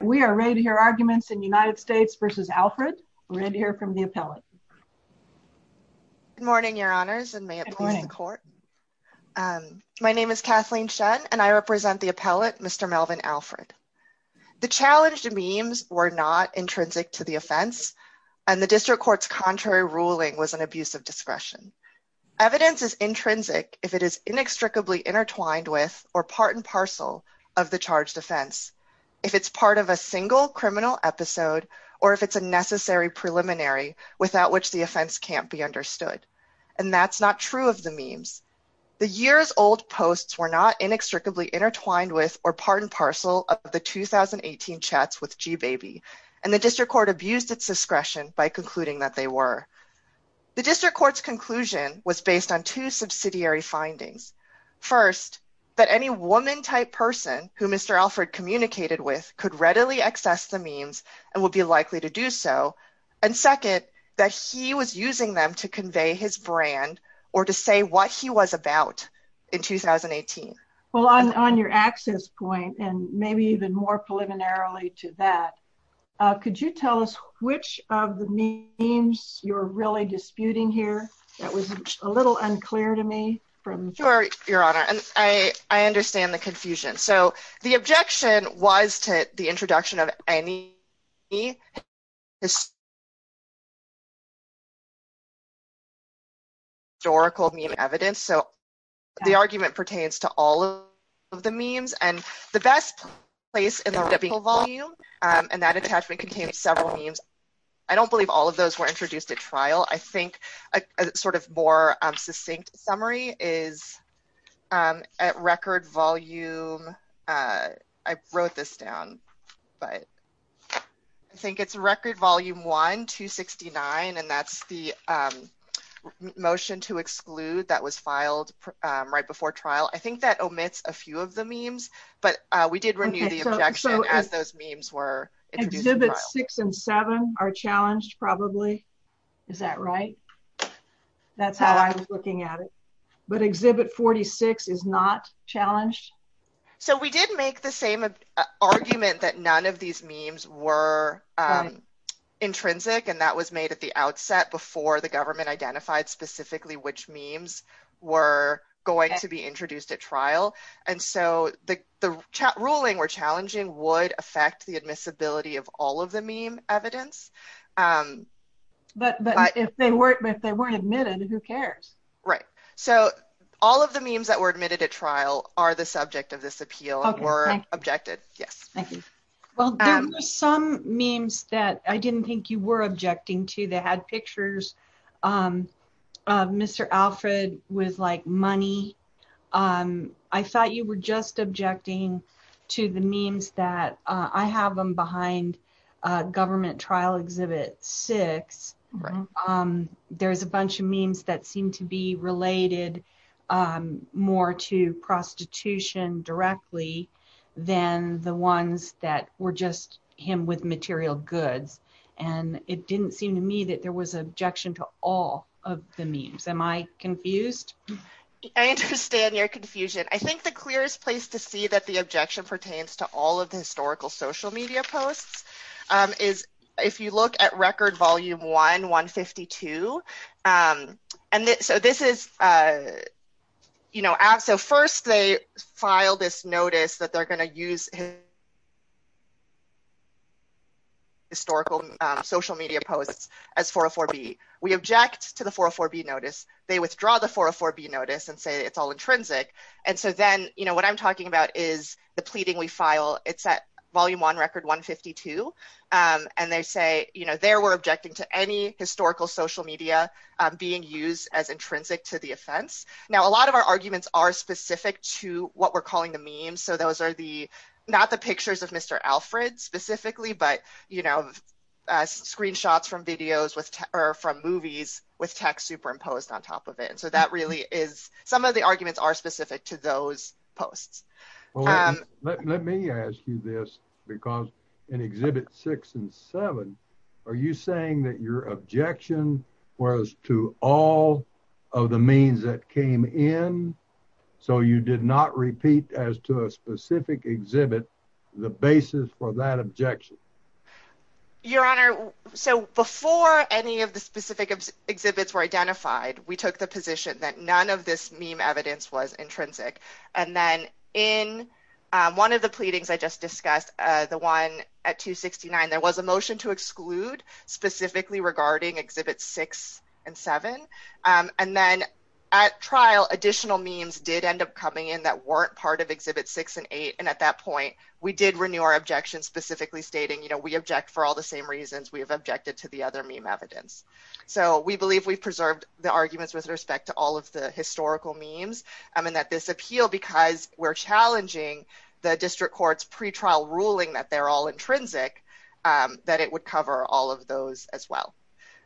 We are ready to hear arguments in United States v. Alfred. We're ready to hear from the appellate. Good morning your honors and may it please the court. My name is Kathleen Shen and I represent the appellate Mr. Melvin Alfred. The challenged memes were not intrinsic to the offense and the district court's contrary ruling was an abuse of discretion. Evidence is intrinsic if it is single criminal episode or if it's a necessary preliminary without which the offense can't be understood and that's not true of the memes. The years-old posts were not inextricably intertwined with or part and parcel of the 2018 chats with G-baby and the district court abused its discretion by concluding that they were. The district court's conclusion was based on two subsidiary findings. First that any woman type person who Mr. Alfred communicated with could readily access the memes and would be likely to do so and second that he was using them to convey his brand or to say what he was about in 2018. Well on your access point and maybe even more preliminarily to that could you tell us which of the memes you're really disputing here that was a little unclear to me? Sure your honor and I understand the confusion so the objection was to the introduction of any historical meme evidence so the argument pertains to all of the memes and the best place in the ripple volume and that attachment contains several memes. I don't believe all of those were submitted. I think the summary is at record volume. I wrote this down but I think it's record volume one 269 and that's the motion to exclude that was filed right before trial. I think that omits a few of the memes but we did renew the objection as those memes were. Exhibits six and seven are but exhibit 46 is not challenged. So we did make the same argument that none of these memes were intrinsic and that was made at the outset before the government identified specifically which memes were going to be introduced at trial and so the ruling were challenging would affect the admissibility of all of the meme evidence. But if they weren't admitted who cares? Right so all of the memes that were admitted at trial are the subject of this appeal were objected. Yes thank you. Well there were some memes that I didn't think you were objecting to that had pictures of Mr. Alfred with like money. I thought you were just objecting to the memes that I have them behind government trial exhibit six. There's a bunch of memes that seem to be related more to prostitution directly than the ones that were just him with material goods and it didn't seem to me that there was objection to all of the memes. Am I confused? I understand your confusion. I think the clearest place to see that the objection pertains to all of and so this is you know so first they file this notice that they're going to use historical social media posts as 404b. We object to the 404b notice. They withdraw the 404b notice and say it's all intrinsic and so then you know what I'm talking about is the pleading we file it's at volume one record 152 and they say you know there we're objecting to any historical social media being used as intrinsic to the offense. Now a lot of our arguments are specific to what we're calling the memes so those are the not the pictures of Mr. Alfred specifically but you know screenshots from videos with or from movies with text superimposed on top of it and so that really is some of the arguments are specific to those posts. Let me ask you this because in exhibit six and seven are you saying that your objection was to all of the memes that came in so you did not repeat as to a specific exhibit the basis for that objection? Your honor so before any of the specific exhibits were identified we took the position that none of this meme evidence was intrinsic and then in one of the pleadings I just discussed the one at 269 there was a motion to exclude specifically regarding exhibits six and seven and then at trial additional memes did end up coming in that weren't part of exhibit six and eight and at that point we did renew our objection specifically stating you know we object for all the same reasons we have objected to the other meme evidence. So we believe we've preserved the arguments with respect to all of the historical memes and that this appeal because we're challenging the district court's pre-trial ruling that they're all intrinsic that it would cover all of those as well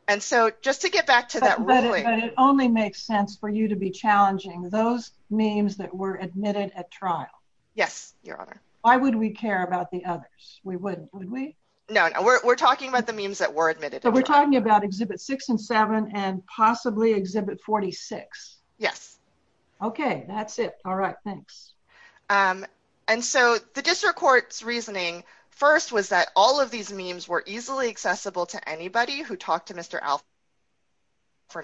and so just to get back to that but it only makes sense for you to be challenging those memes that were admitted at trial yes your honor why would we care about the others we wouldn't would we no no we're talking about the memes that were admitted so we're talking about exhibit six and seven and possibly exhibit 46 yes okay that's it all right thanks and so the district court's reasoning first was that all of these memes were easily accessible to anybody who talked to Mr. Alfred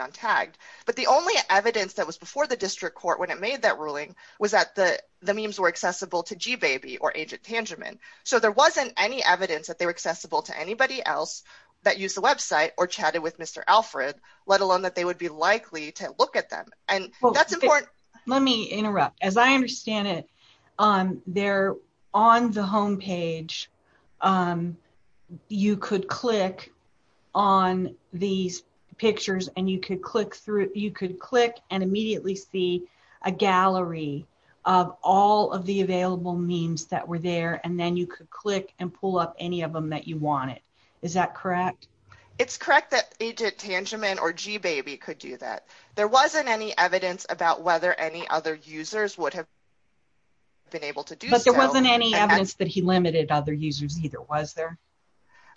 on tagged but the only evidence that was before the district court when it made that ruling was that the the memes were accessible to g-baby or agent tangerman so there wasn't any evidence that they were accessible to anybody else that used the website or chatted with Mr. Alfred let alone that they would be likely to look at them and that's important let me interrupt as i understand it um they're on the home page um you could click on these pictures and you could click through you could click and immediately see a gallery of all of the available memes that were there and then you could click and pull up any of them that you wanted is that correct it's correct that tangent or g-baby could do that there wasn't any evidence about whether any other users would have been able to do but there wasn't any evidence that he limited other users either was there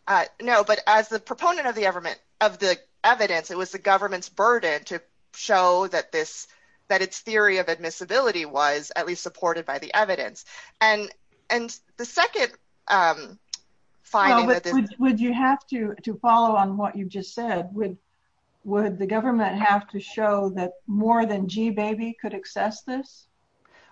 uh no but as the proponent of the government of the evidence it was the government's burden to show that this that its theory of admissibility was at least supported by the evidence and and the second um fine would you have to to follow on what you just said would would the government have to show that more than g-baby could access this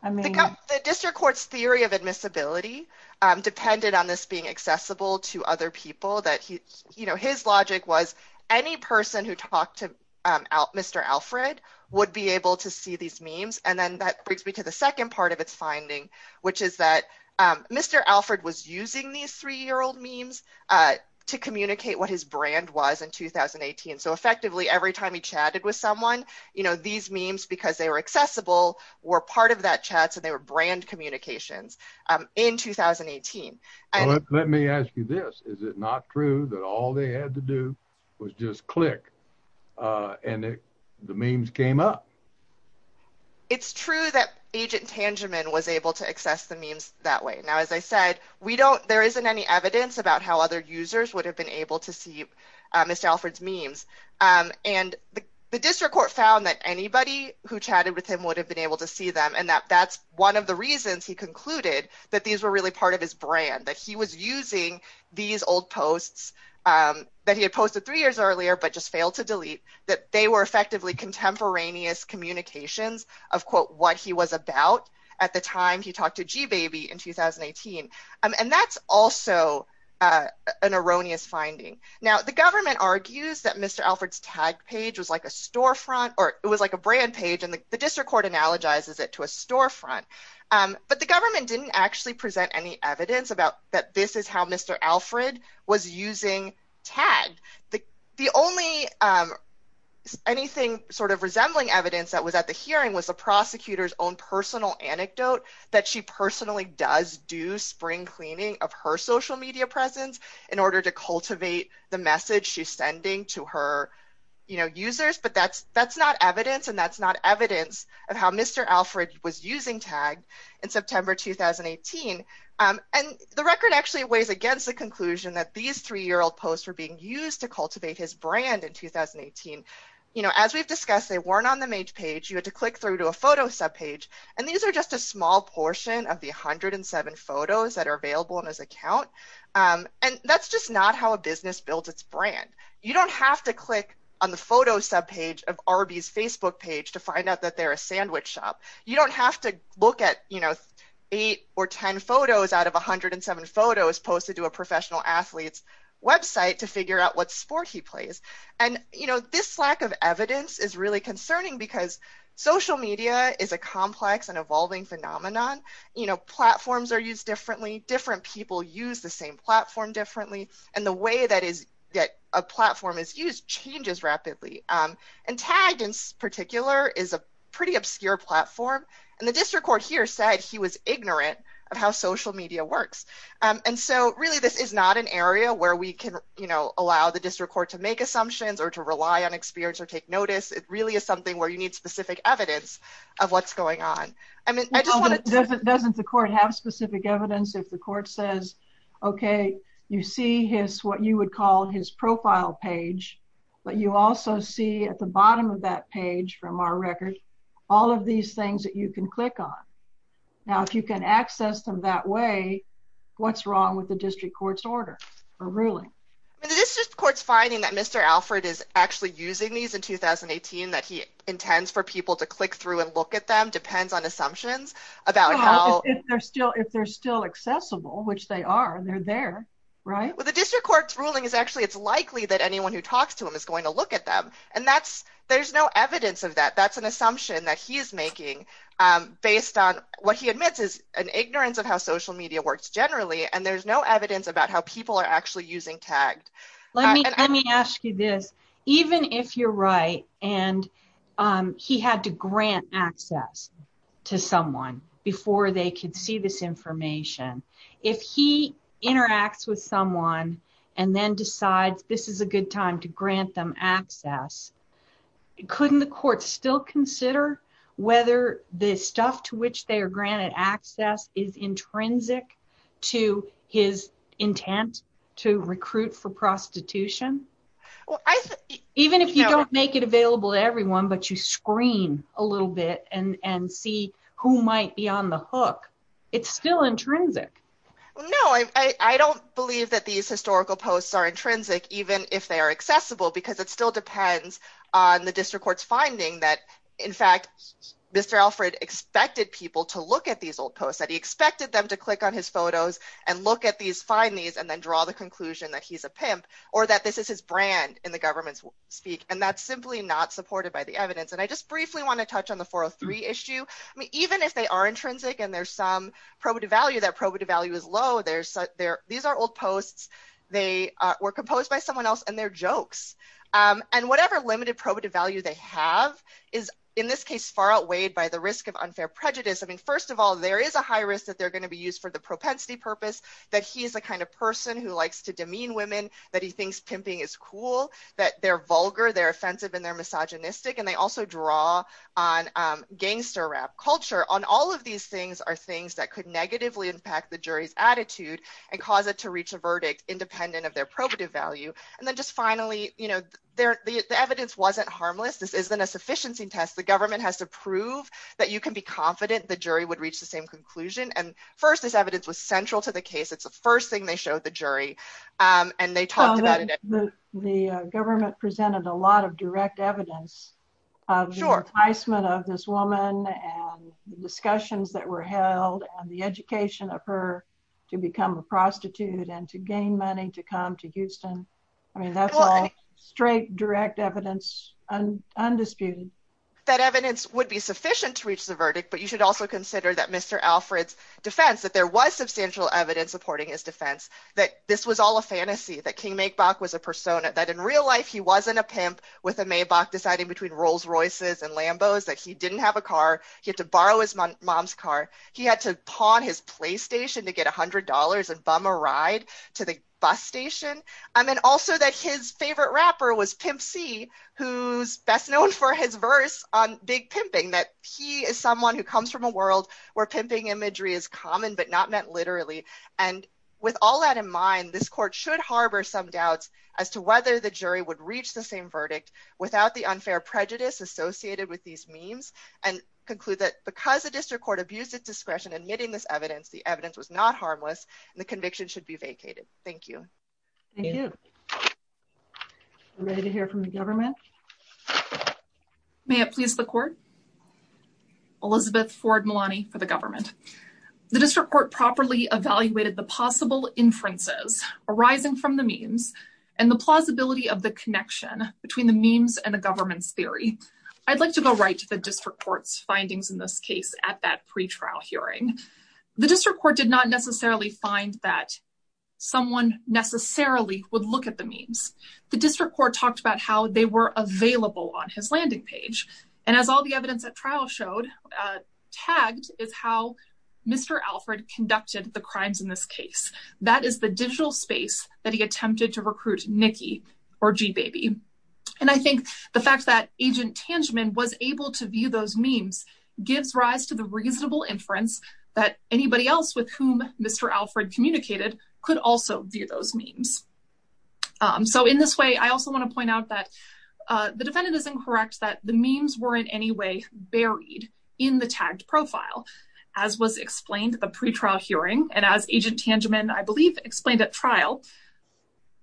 i mean the district court's theory of admissibility um depended on this being accessible to other people that he you know his logic was any person who talked to um out mr alfred would be able to see these memes and then that brings me to the second part of its finding which is that um mr alfred was using these three-year-old memes uh to communicate what his brand was in 2018 so effectively every time he chatted with someone you know these memes because they were accessible were part of that chat so they were brand communications um in 2018 and let me ask you this is it not true that all they had to do was just click uh and the memes came up it's true that agent tangerman was able to access the memes that way now as i said we don't there isn't any evidence about how other users would have been able to see mr alfred's memes um and the district court found that anybody who chatted with him would have been able to see them and that that's one of the reasons he concluded that these were part of his brand that he was using these old posts um that he had posted three years earlier but just failed to delete that they were effectively contemporaneous communications of quote what he was about at the time he talked to g baby in 2018 and that's also uh an erroneous finding now the government argues that mr alfred's tag page was like a storefront or it was like a brand page and the district court analogizes it to a storefront um but the government didn't actually present any evidence about that this is how mr alfred was using tag the only um anything sort of resembling evidence that was at the hearing was the prosecutor's own personal anecdote that she personally does do spring cleaning of her social media presence in order to cultivate the message she's sending to her you know users but that's that's not evidence and that's not evidence of how mr alfred was using tag in september 2018 um and the record actually weighs against the conclusion that these three-year-old posts were being used to cultivate his brand in 2018 you know as we've discussed they weren't on the main page you had to click through to a photo sub page and these are just a small portion of the 107 photos that are available in his account um and that's just not how a business builds its brand you don't have to click on the photo sub page of rb's facebook page to find out that they're a sandwich shop you don't have to look at you know eight or ten photos out of 107 photos posted to a professional athlete's website to figure out what sport he plays and you know this lack of evidence is really concerning because social media is a complex and evolving phenomenon you know platforms are used differently different people use the same platform differently and the way that is that a platform is used changes rapidly um and tagged in particular is a pretty obscure platform and the district court here said he was ignorant of how social media works um and so really this is not an area where we can you know allow the district court to make assumptions or to rely on experience or take notice it really is something where you need specific evidence of what's going on i mean i just wanted doesn't the court have specific evidence if the court says okay you see his what you would call his profile page but you also see at the bottom of that page from our record all of these things that you can click on now if you can access them that way what's wrong with the district court's order or ruling the district court's finding that mr alfred is actually using these in 2018 that he intends for people to click through and look at them depends on assumptions about how if they're still if they're still accessible which they are they're there right well the district court's actually it's likely that anyone who talks to him is going to look at them and that's there's no evidence of that that's an assumption that he's making um based on what he admits is an ignorance of how social media works generally and there's no evidence about how people are actually using tagged let me let me ask you this even if you're right and um he had to grant access to someone before they could see this information if he interacts with someone and then decides this is a good time to grant them access couldn't the court still consider whether the stuff to which they are granted access is intrinsic to his intent to recruit for prostitution well i even if you don't it available to everyone but you screen a little bit and and see who might be on the hook it's still intrinsic no i i don't believe that these historical posts are intrinsic even if they are accessible because it still depends on the district court's finding that in fact mr alfred expected people to look at these old posts that he expected them to click on his photos and look at these find these and then draw the conclusion that he's a pimp or that this is his brand in the government's speak and that's simply not supported by the evidence and i just briefly want to touch on the 403 issue i mean even if they are intrinsic and there's some probative value that probative value is low there's there these are old posts they were composed by someone else and they're jokes and whatever limited probative value they have is in this case far outweighed by the risk of unfair prejudice i mean first of all there is a high risk that they're going to be used for the propensity purpose that he's the kind of person who likes to demean women that he thinks pimping is cool that they're vulgar they're offensive and they're misogynistic and they also draw on um gangster rap culture on all of these things are things that could negatively impact the jury's attitude and cause it to reach a verdict independent of their probative value and then just finally you know their the evidence wasn't harmless this isn't a sufficiency test the government has to prove that you can be confident the jury would reach the same conclusion and first this evidence was central to the case it's the first thing they showed the jury um and they talked about it the government presented a lot of direct evidence of the enticement of this woman and the discussions that were held and the education of her to become a prostitute and to gain money to come to houston i mean that's all straight direct evidence and undisputed that evidence would be sufficient to reach the verdict but you should also consider that mr alfred's defense that there was substantial evidence supporting his defense that this was all a fantasy that king make bach was a persona that in real life he wasn't a pimp with a maybach deciding between rolls royces and lambos that he didn't have a car he had to borrow his mom's car he had to pawn his playstation to get a hundred dollars and bum a ride to the bus station i mean also that his favorite rapper was pimp c who's best known for his verse on big pimping that he is someone who comes from a world where pimping imagery is common but not meant and with all that in mind this court should harbor some doubts as to whether the jury would reach the same verdict without the unfair prejudice associated with these memes and conclude that because the district court abused its discretion admitting this evidence the evidence was not harmless and the conviction should be vacated thank you thank you i'm ready to hear from the government may it please the court elizabeth ford milani for the government the evaluated the possible inferences arising from the memes and the plausibility of the connection between the memes and the government's theory i'd like to go right to the district court's findings in this case at that pre-trial hearing the district court did not necessarily find that someone necessarily would look at the memes the district court talked about how they were available on his landing page and as all the evidence at trial showed uh tagged is how mr alfred conducted the crimes in this case that is the digital space that he attempted to recruit nicky or g baby and i think the fact that agent tangeman was able to view those memes gives rise to the reasonable inference that anybody else with whom mr alfred communicated could also view those memes um so in this way i also want to point out that uh the defendant is incorrect that the memes were in any way buried in the tagged profile as was explained the pre-trial hearing and as agent tangeman i believe explained at trial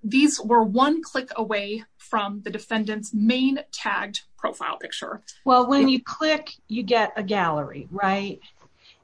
these were one click away from the defendant's main tagged profile picture well when you click you get a gallery right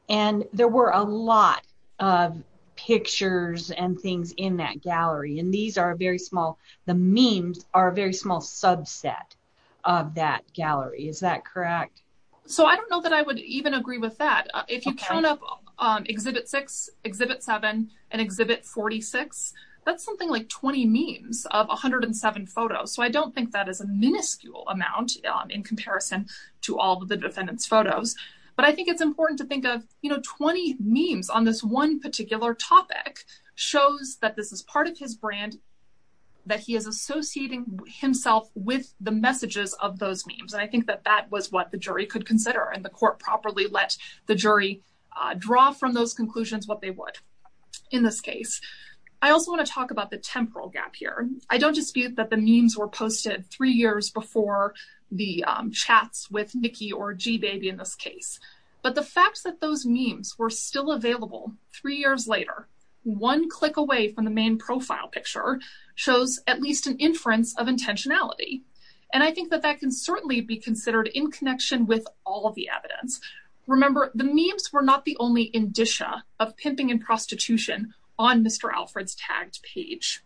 and there were a lot of pictures and things in that gallery and these are very small the memes are a very small subset of that gallery is that correct so i don't know that i would even agree with that if you count up um exhibit six exhibit seven and exhibit 46 that's something like 20 memes of 107 photos so i don't think that is a miniscule amount um in comparison to all the defendant's photos but i think it's important to think of you know 20 memes on this one particular topic shows that this is part of his brand that he is associating himself with the messages of those memes and i think that that was what the jury could consider and the court properly let the jury uh draw from those conclusions what they would in this case i also want to talk about the temporal gap here i don't dispute that the memes were posted three years before the chats with nicky or g baby in this case but the fact that those memes were still available three years later one click away from the main profile picture shows at least an inference of intentionality and i think that that can certainly be considered in connection with all of the evidence remember the memes were not the only indicia of pimping and prostitution on mr alfred's tagged page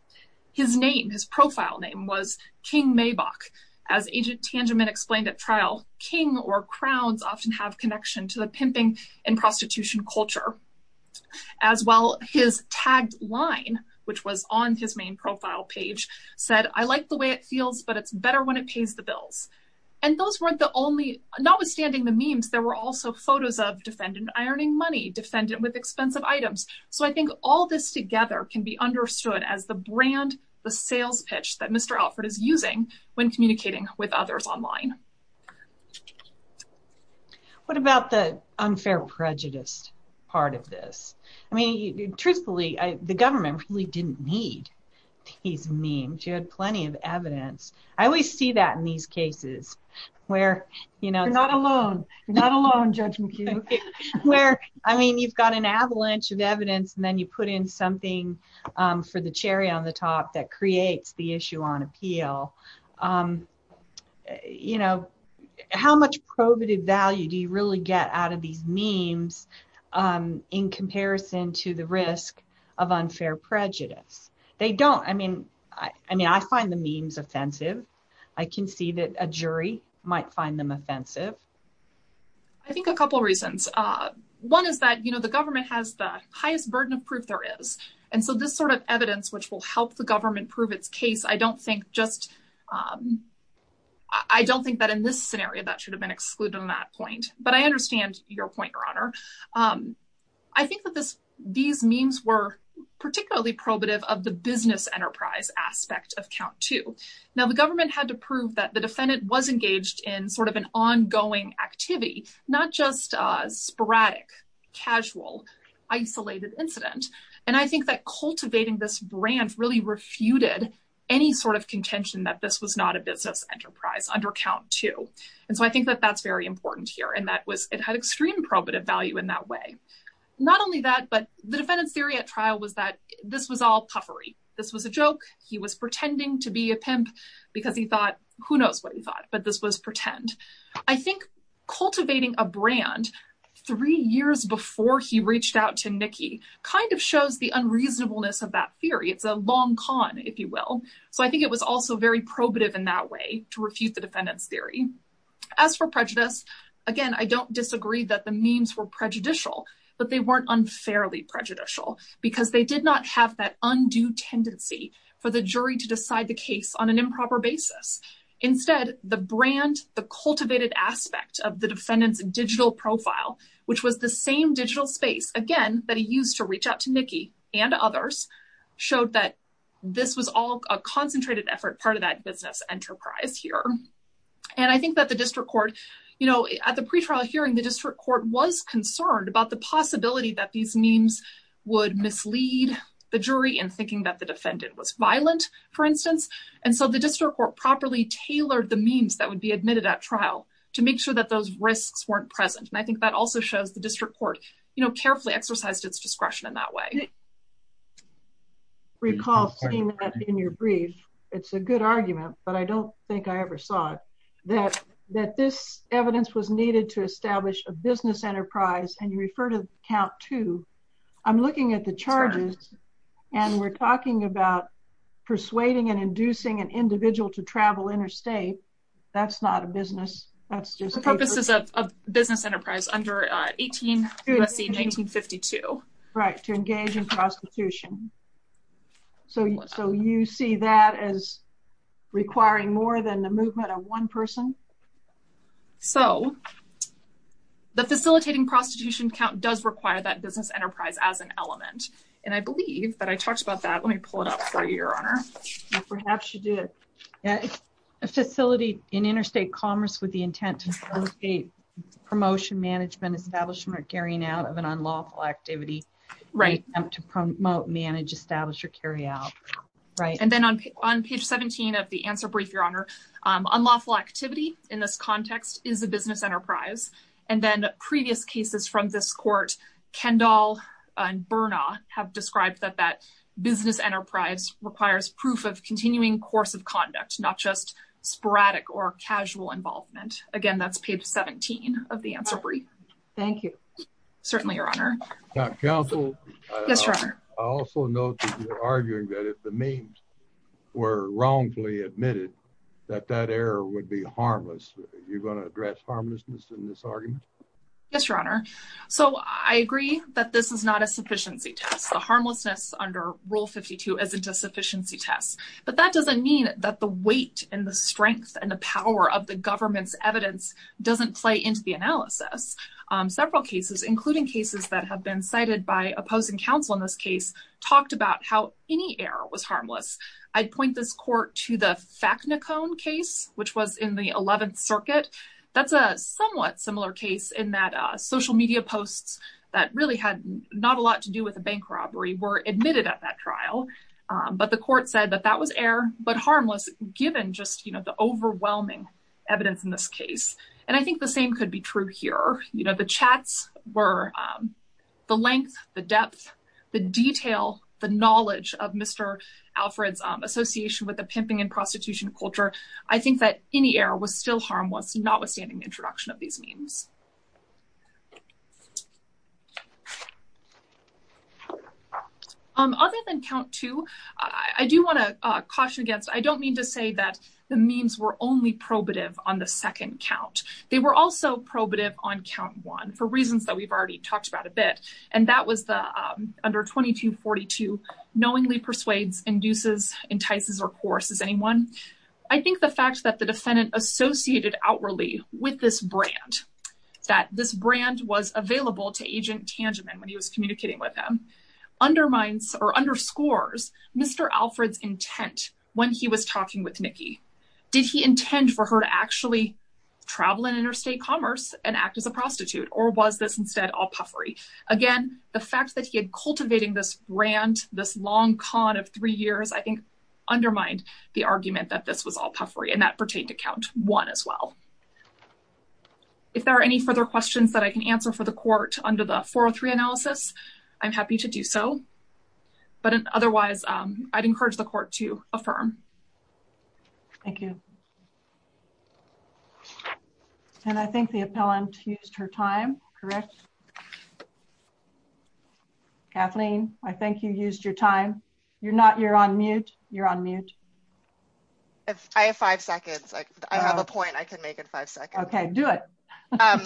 his name his profile name was king maybach as agent tangiment explained at trial king or crowns often have connection to the pimping and prostitution culture as well his tagged line which was on his main profile page said i like the way it feels but it's better when it pays the bills and those weren't the only notwithstanding the memes there were also photos of defendant ironing money defendant with expensive items so i think all this together can be understood as the brand the sales pitch that mr alfred is using when communicating with others online what about the unfair prejudice part of this i mean truthfully i the government really didn't need these memes you had plenty of evidence i always see that in these cases where you know you're not alone you're not alone judge mccue where i mean you've got an avalanche of evidence and then you put in something um for the cherry on the top that creates the issue on you know how much probative value do you really get out of these memes um in comparison to the risk of unfair prejudice they don't i mean i i mean i find the memes offensive i can see that a jury might find them offensive i think a couple reasons uh one is that you know the government has the highest burden of proof there is and so this sort of evidence which will help the government prove its case i don't think just um i don't think that in this scenario that should have been excluded on that point but i understand your point your honor um i think that this these memes were particularly probative of the business enterprise aspect of count two now the government had to prove that the defendant was engaged in sort of an ongoing activity not just a sporadic casual isolated incident and i think that cultivating this brand really refuted any sort of contention that this was not a business enterprise under count two and so i think that that's very important here and that was it had extreme probative value in that way not only that but the defendant's theory at trial was that this was all puffery this was a joke he was pretending to be a pimp because he thought who knows what he thought but this was pretend i think cultivating a three years before he reached out to nikki kind of shows the unreasonableness of that theory it's a long con if you will so i think it was also very probative in that way to refute the defendant's theory as for prejudice again i don't disagree that the memes were prejudicial but they weren't unfairly prejudicial because they did not have that undue tendency for the jury to decide the which was the same digital space again that he used to reach out to nikki and others showed that this was all a concentrated effort part of that business enterprise here and i think that the district court you know at the pre-trial hearing the district court was concerned about the possibility that these memes would mislead the jury in thinking that the defendant was violent for instance and so the district court properly tailored the memes that would be admitted at trial to make sure that those risks weren't present and i think that also shows the district court you know carefully exercised its discretion in that way recall seeing that in your brief it's a good argument but i don't think i ever saw it that that this evidence was needed to establish a business enterprise and you refer to count two i'm looking at the charges and we're talking about persuading and inducing an individual to travel interstate that's not a business that's just the purpose is a business enterprise under 18 usc 1952 right to engage in prostitution so so you see that as requiring more than the movement of one person so the facilitating prostitution count does require that business enterprise as an element and i believe that i talked about that let me pull it up for you your honor perhaps you did a facility in interstate commerce with the intent to facilitate promotion management establishment carrying out of an unlawful activity right to promote manage establish or carry out right and then on on page 17 of the answer brief your honor um unlawful activity in this context is a business enterprise and then previous cases from this court kendall and bernard have described that that business enterprise requires proof of continuing course of conduct not just sporadic or casual involvement again that's page 17 of the answer brief thank you certainly your honor counsel yes your honor i also note that you're arguing that if the memes were wrongfully admitted that that error would be harmless you're going to address in this argument yes your honor so i agree that this is not a sufficiency test the harmlessness under rule 52 isn't a sufficiency test but that doesn't mean that the weight and the strength and the power of the government's evidence doesn't play into the analysis um several cases including cases that have been cited by opposing counsel in this case talked about how any error was harmless i'd point this court to the facnicone case which was in the 11th circuit that's a somewhat similar case in that social media posts that really had not a lot to do with a bank robbery were admitted at that trial but the court said that that was air but harmless given just you know the overwhelming evidence in this case and i think the same could be true here you know the chats were the length the depth the detail the knowledge of mr alfred's association with the pimping and prostitution culture i think that any error was still harmless notwithstanding introduction of these memes other than count two i do want to caution against i don't mean to say that the memes were only probative on the second count they were also probative on count one for reasons that we've already talked about a bit and that was the um under 22 42 knowingly persuades induces entices or coerces anyone i think the fact that the defendant associated outwardly with this brand that this brand was available to agent tanjamin when he was communicating with him undermines or underscores mr alfred's intent when he was talking with nicky did he intend for her to actually travel in interstate commerce and act as a prostitute or was this instead all puffery again the fact that he had cultivating this brand this long con of three years i think undermined the argument that this was all puffery and that pertained to count one as well if there are any further questions that i can answer for the court under the 403 analysis i'm happy to do so but otherwise um i'd encourage the court to affirm thank you okay and i think the appellant used her time correct kathleen i think you used your time you're not you're on mute you're on mute if i have five seconds i have a point i can make in five seconds okay do it um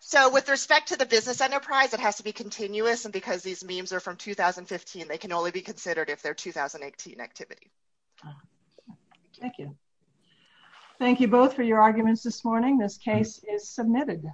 so with respect to the business enterprise it has to be continuous and because these memes are from 2015 they can thank you thank you both for your arguments this morning this case is submitted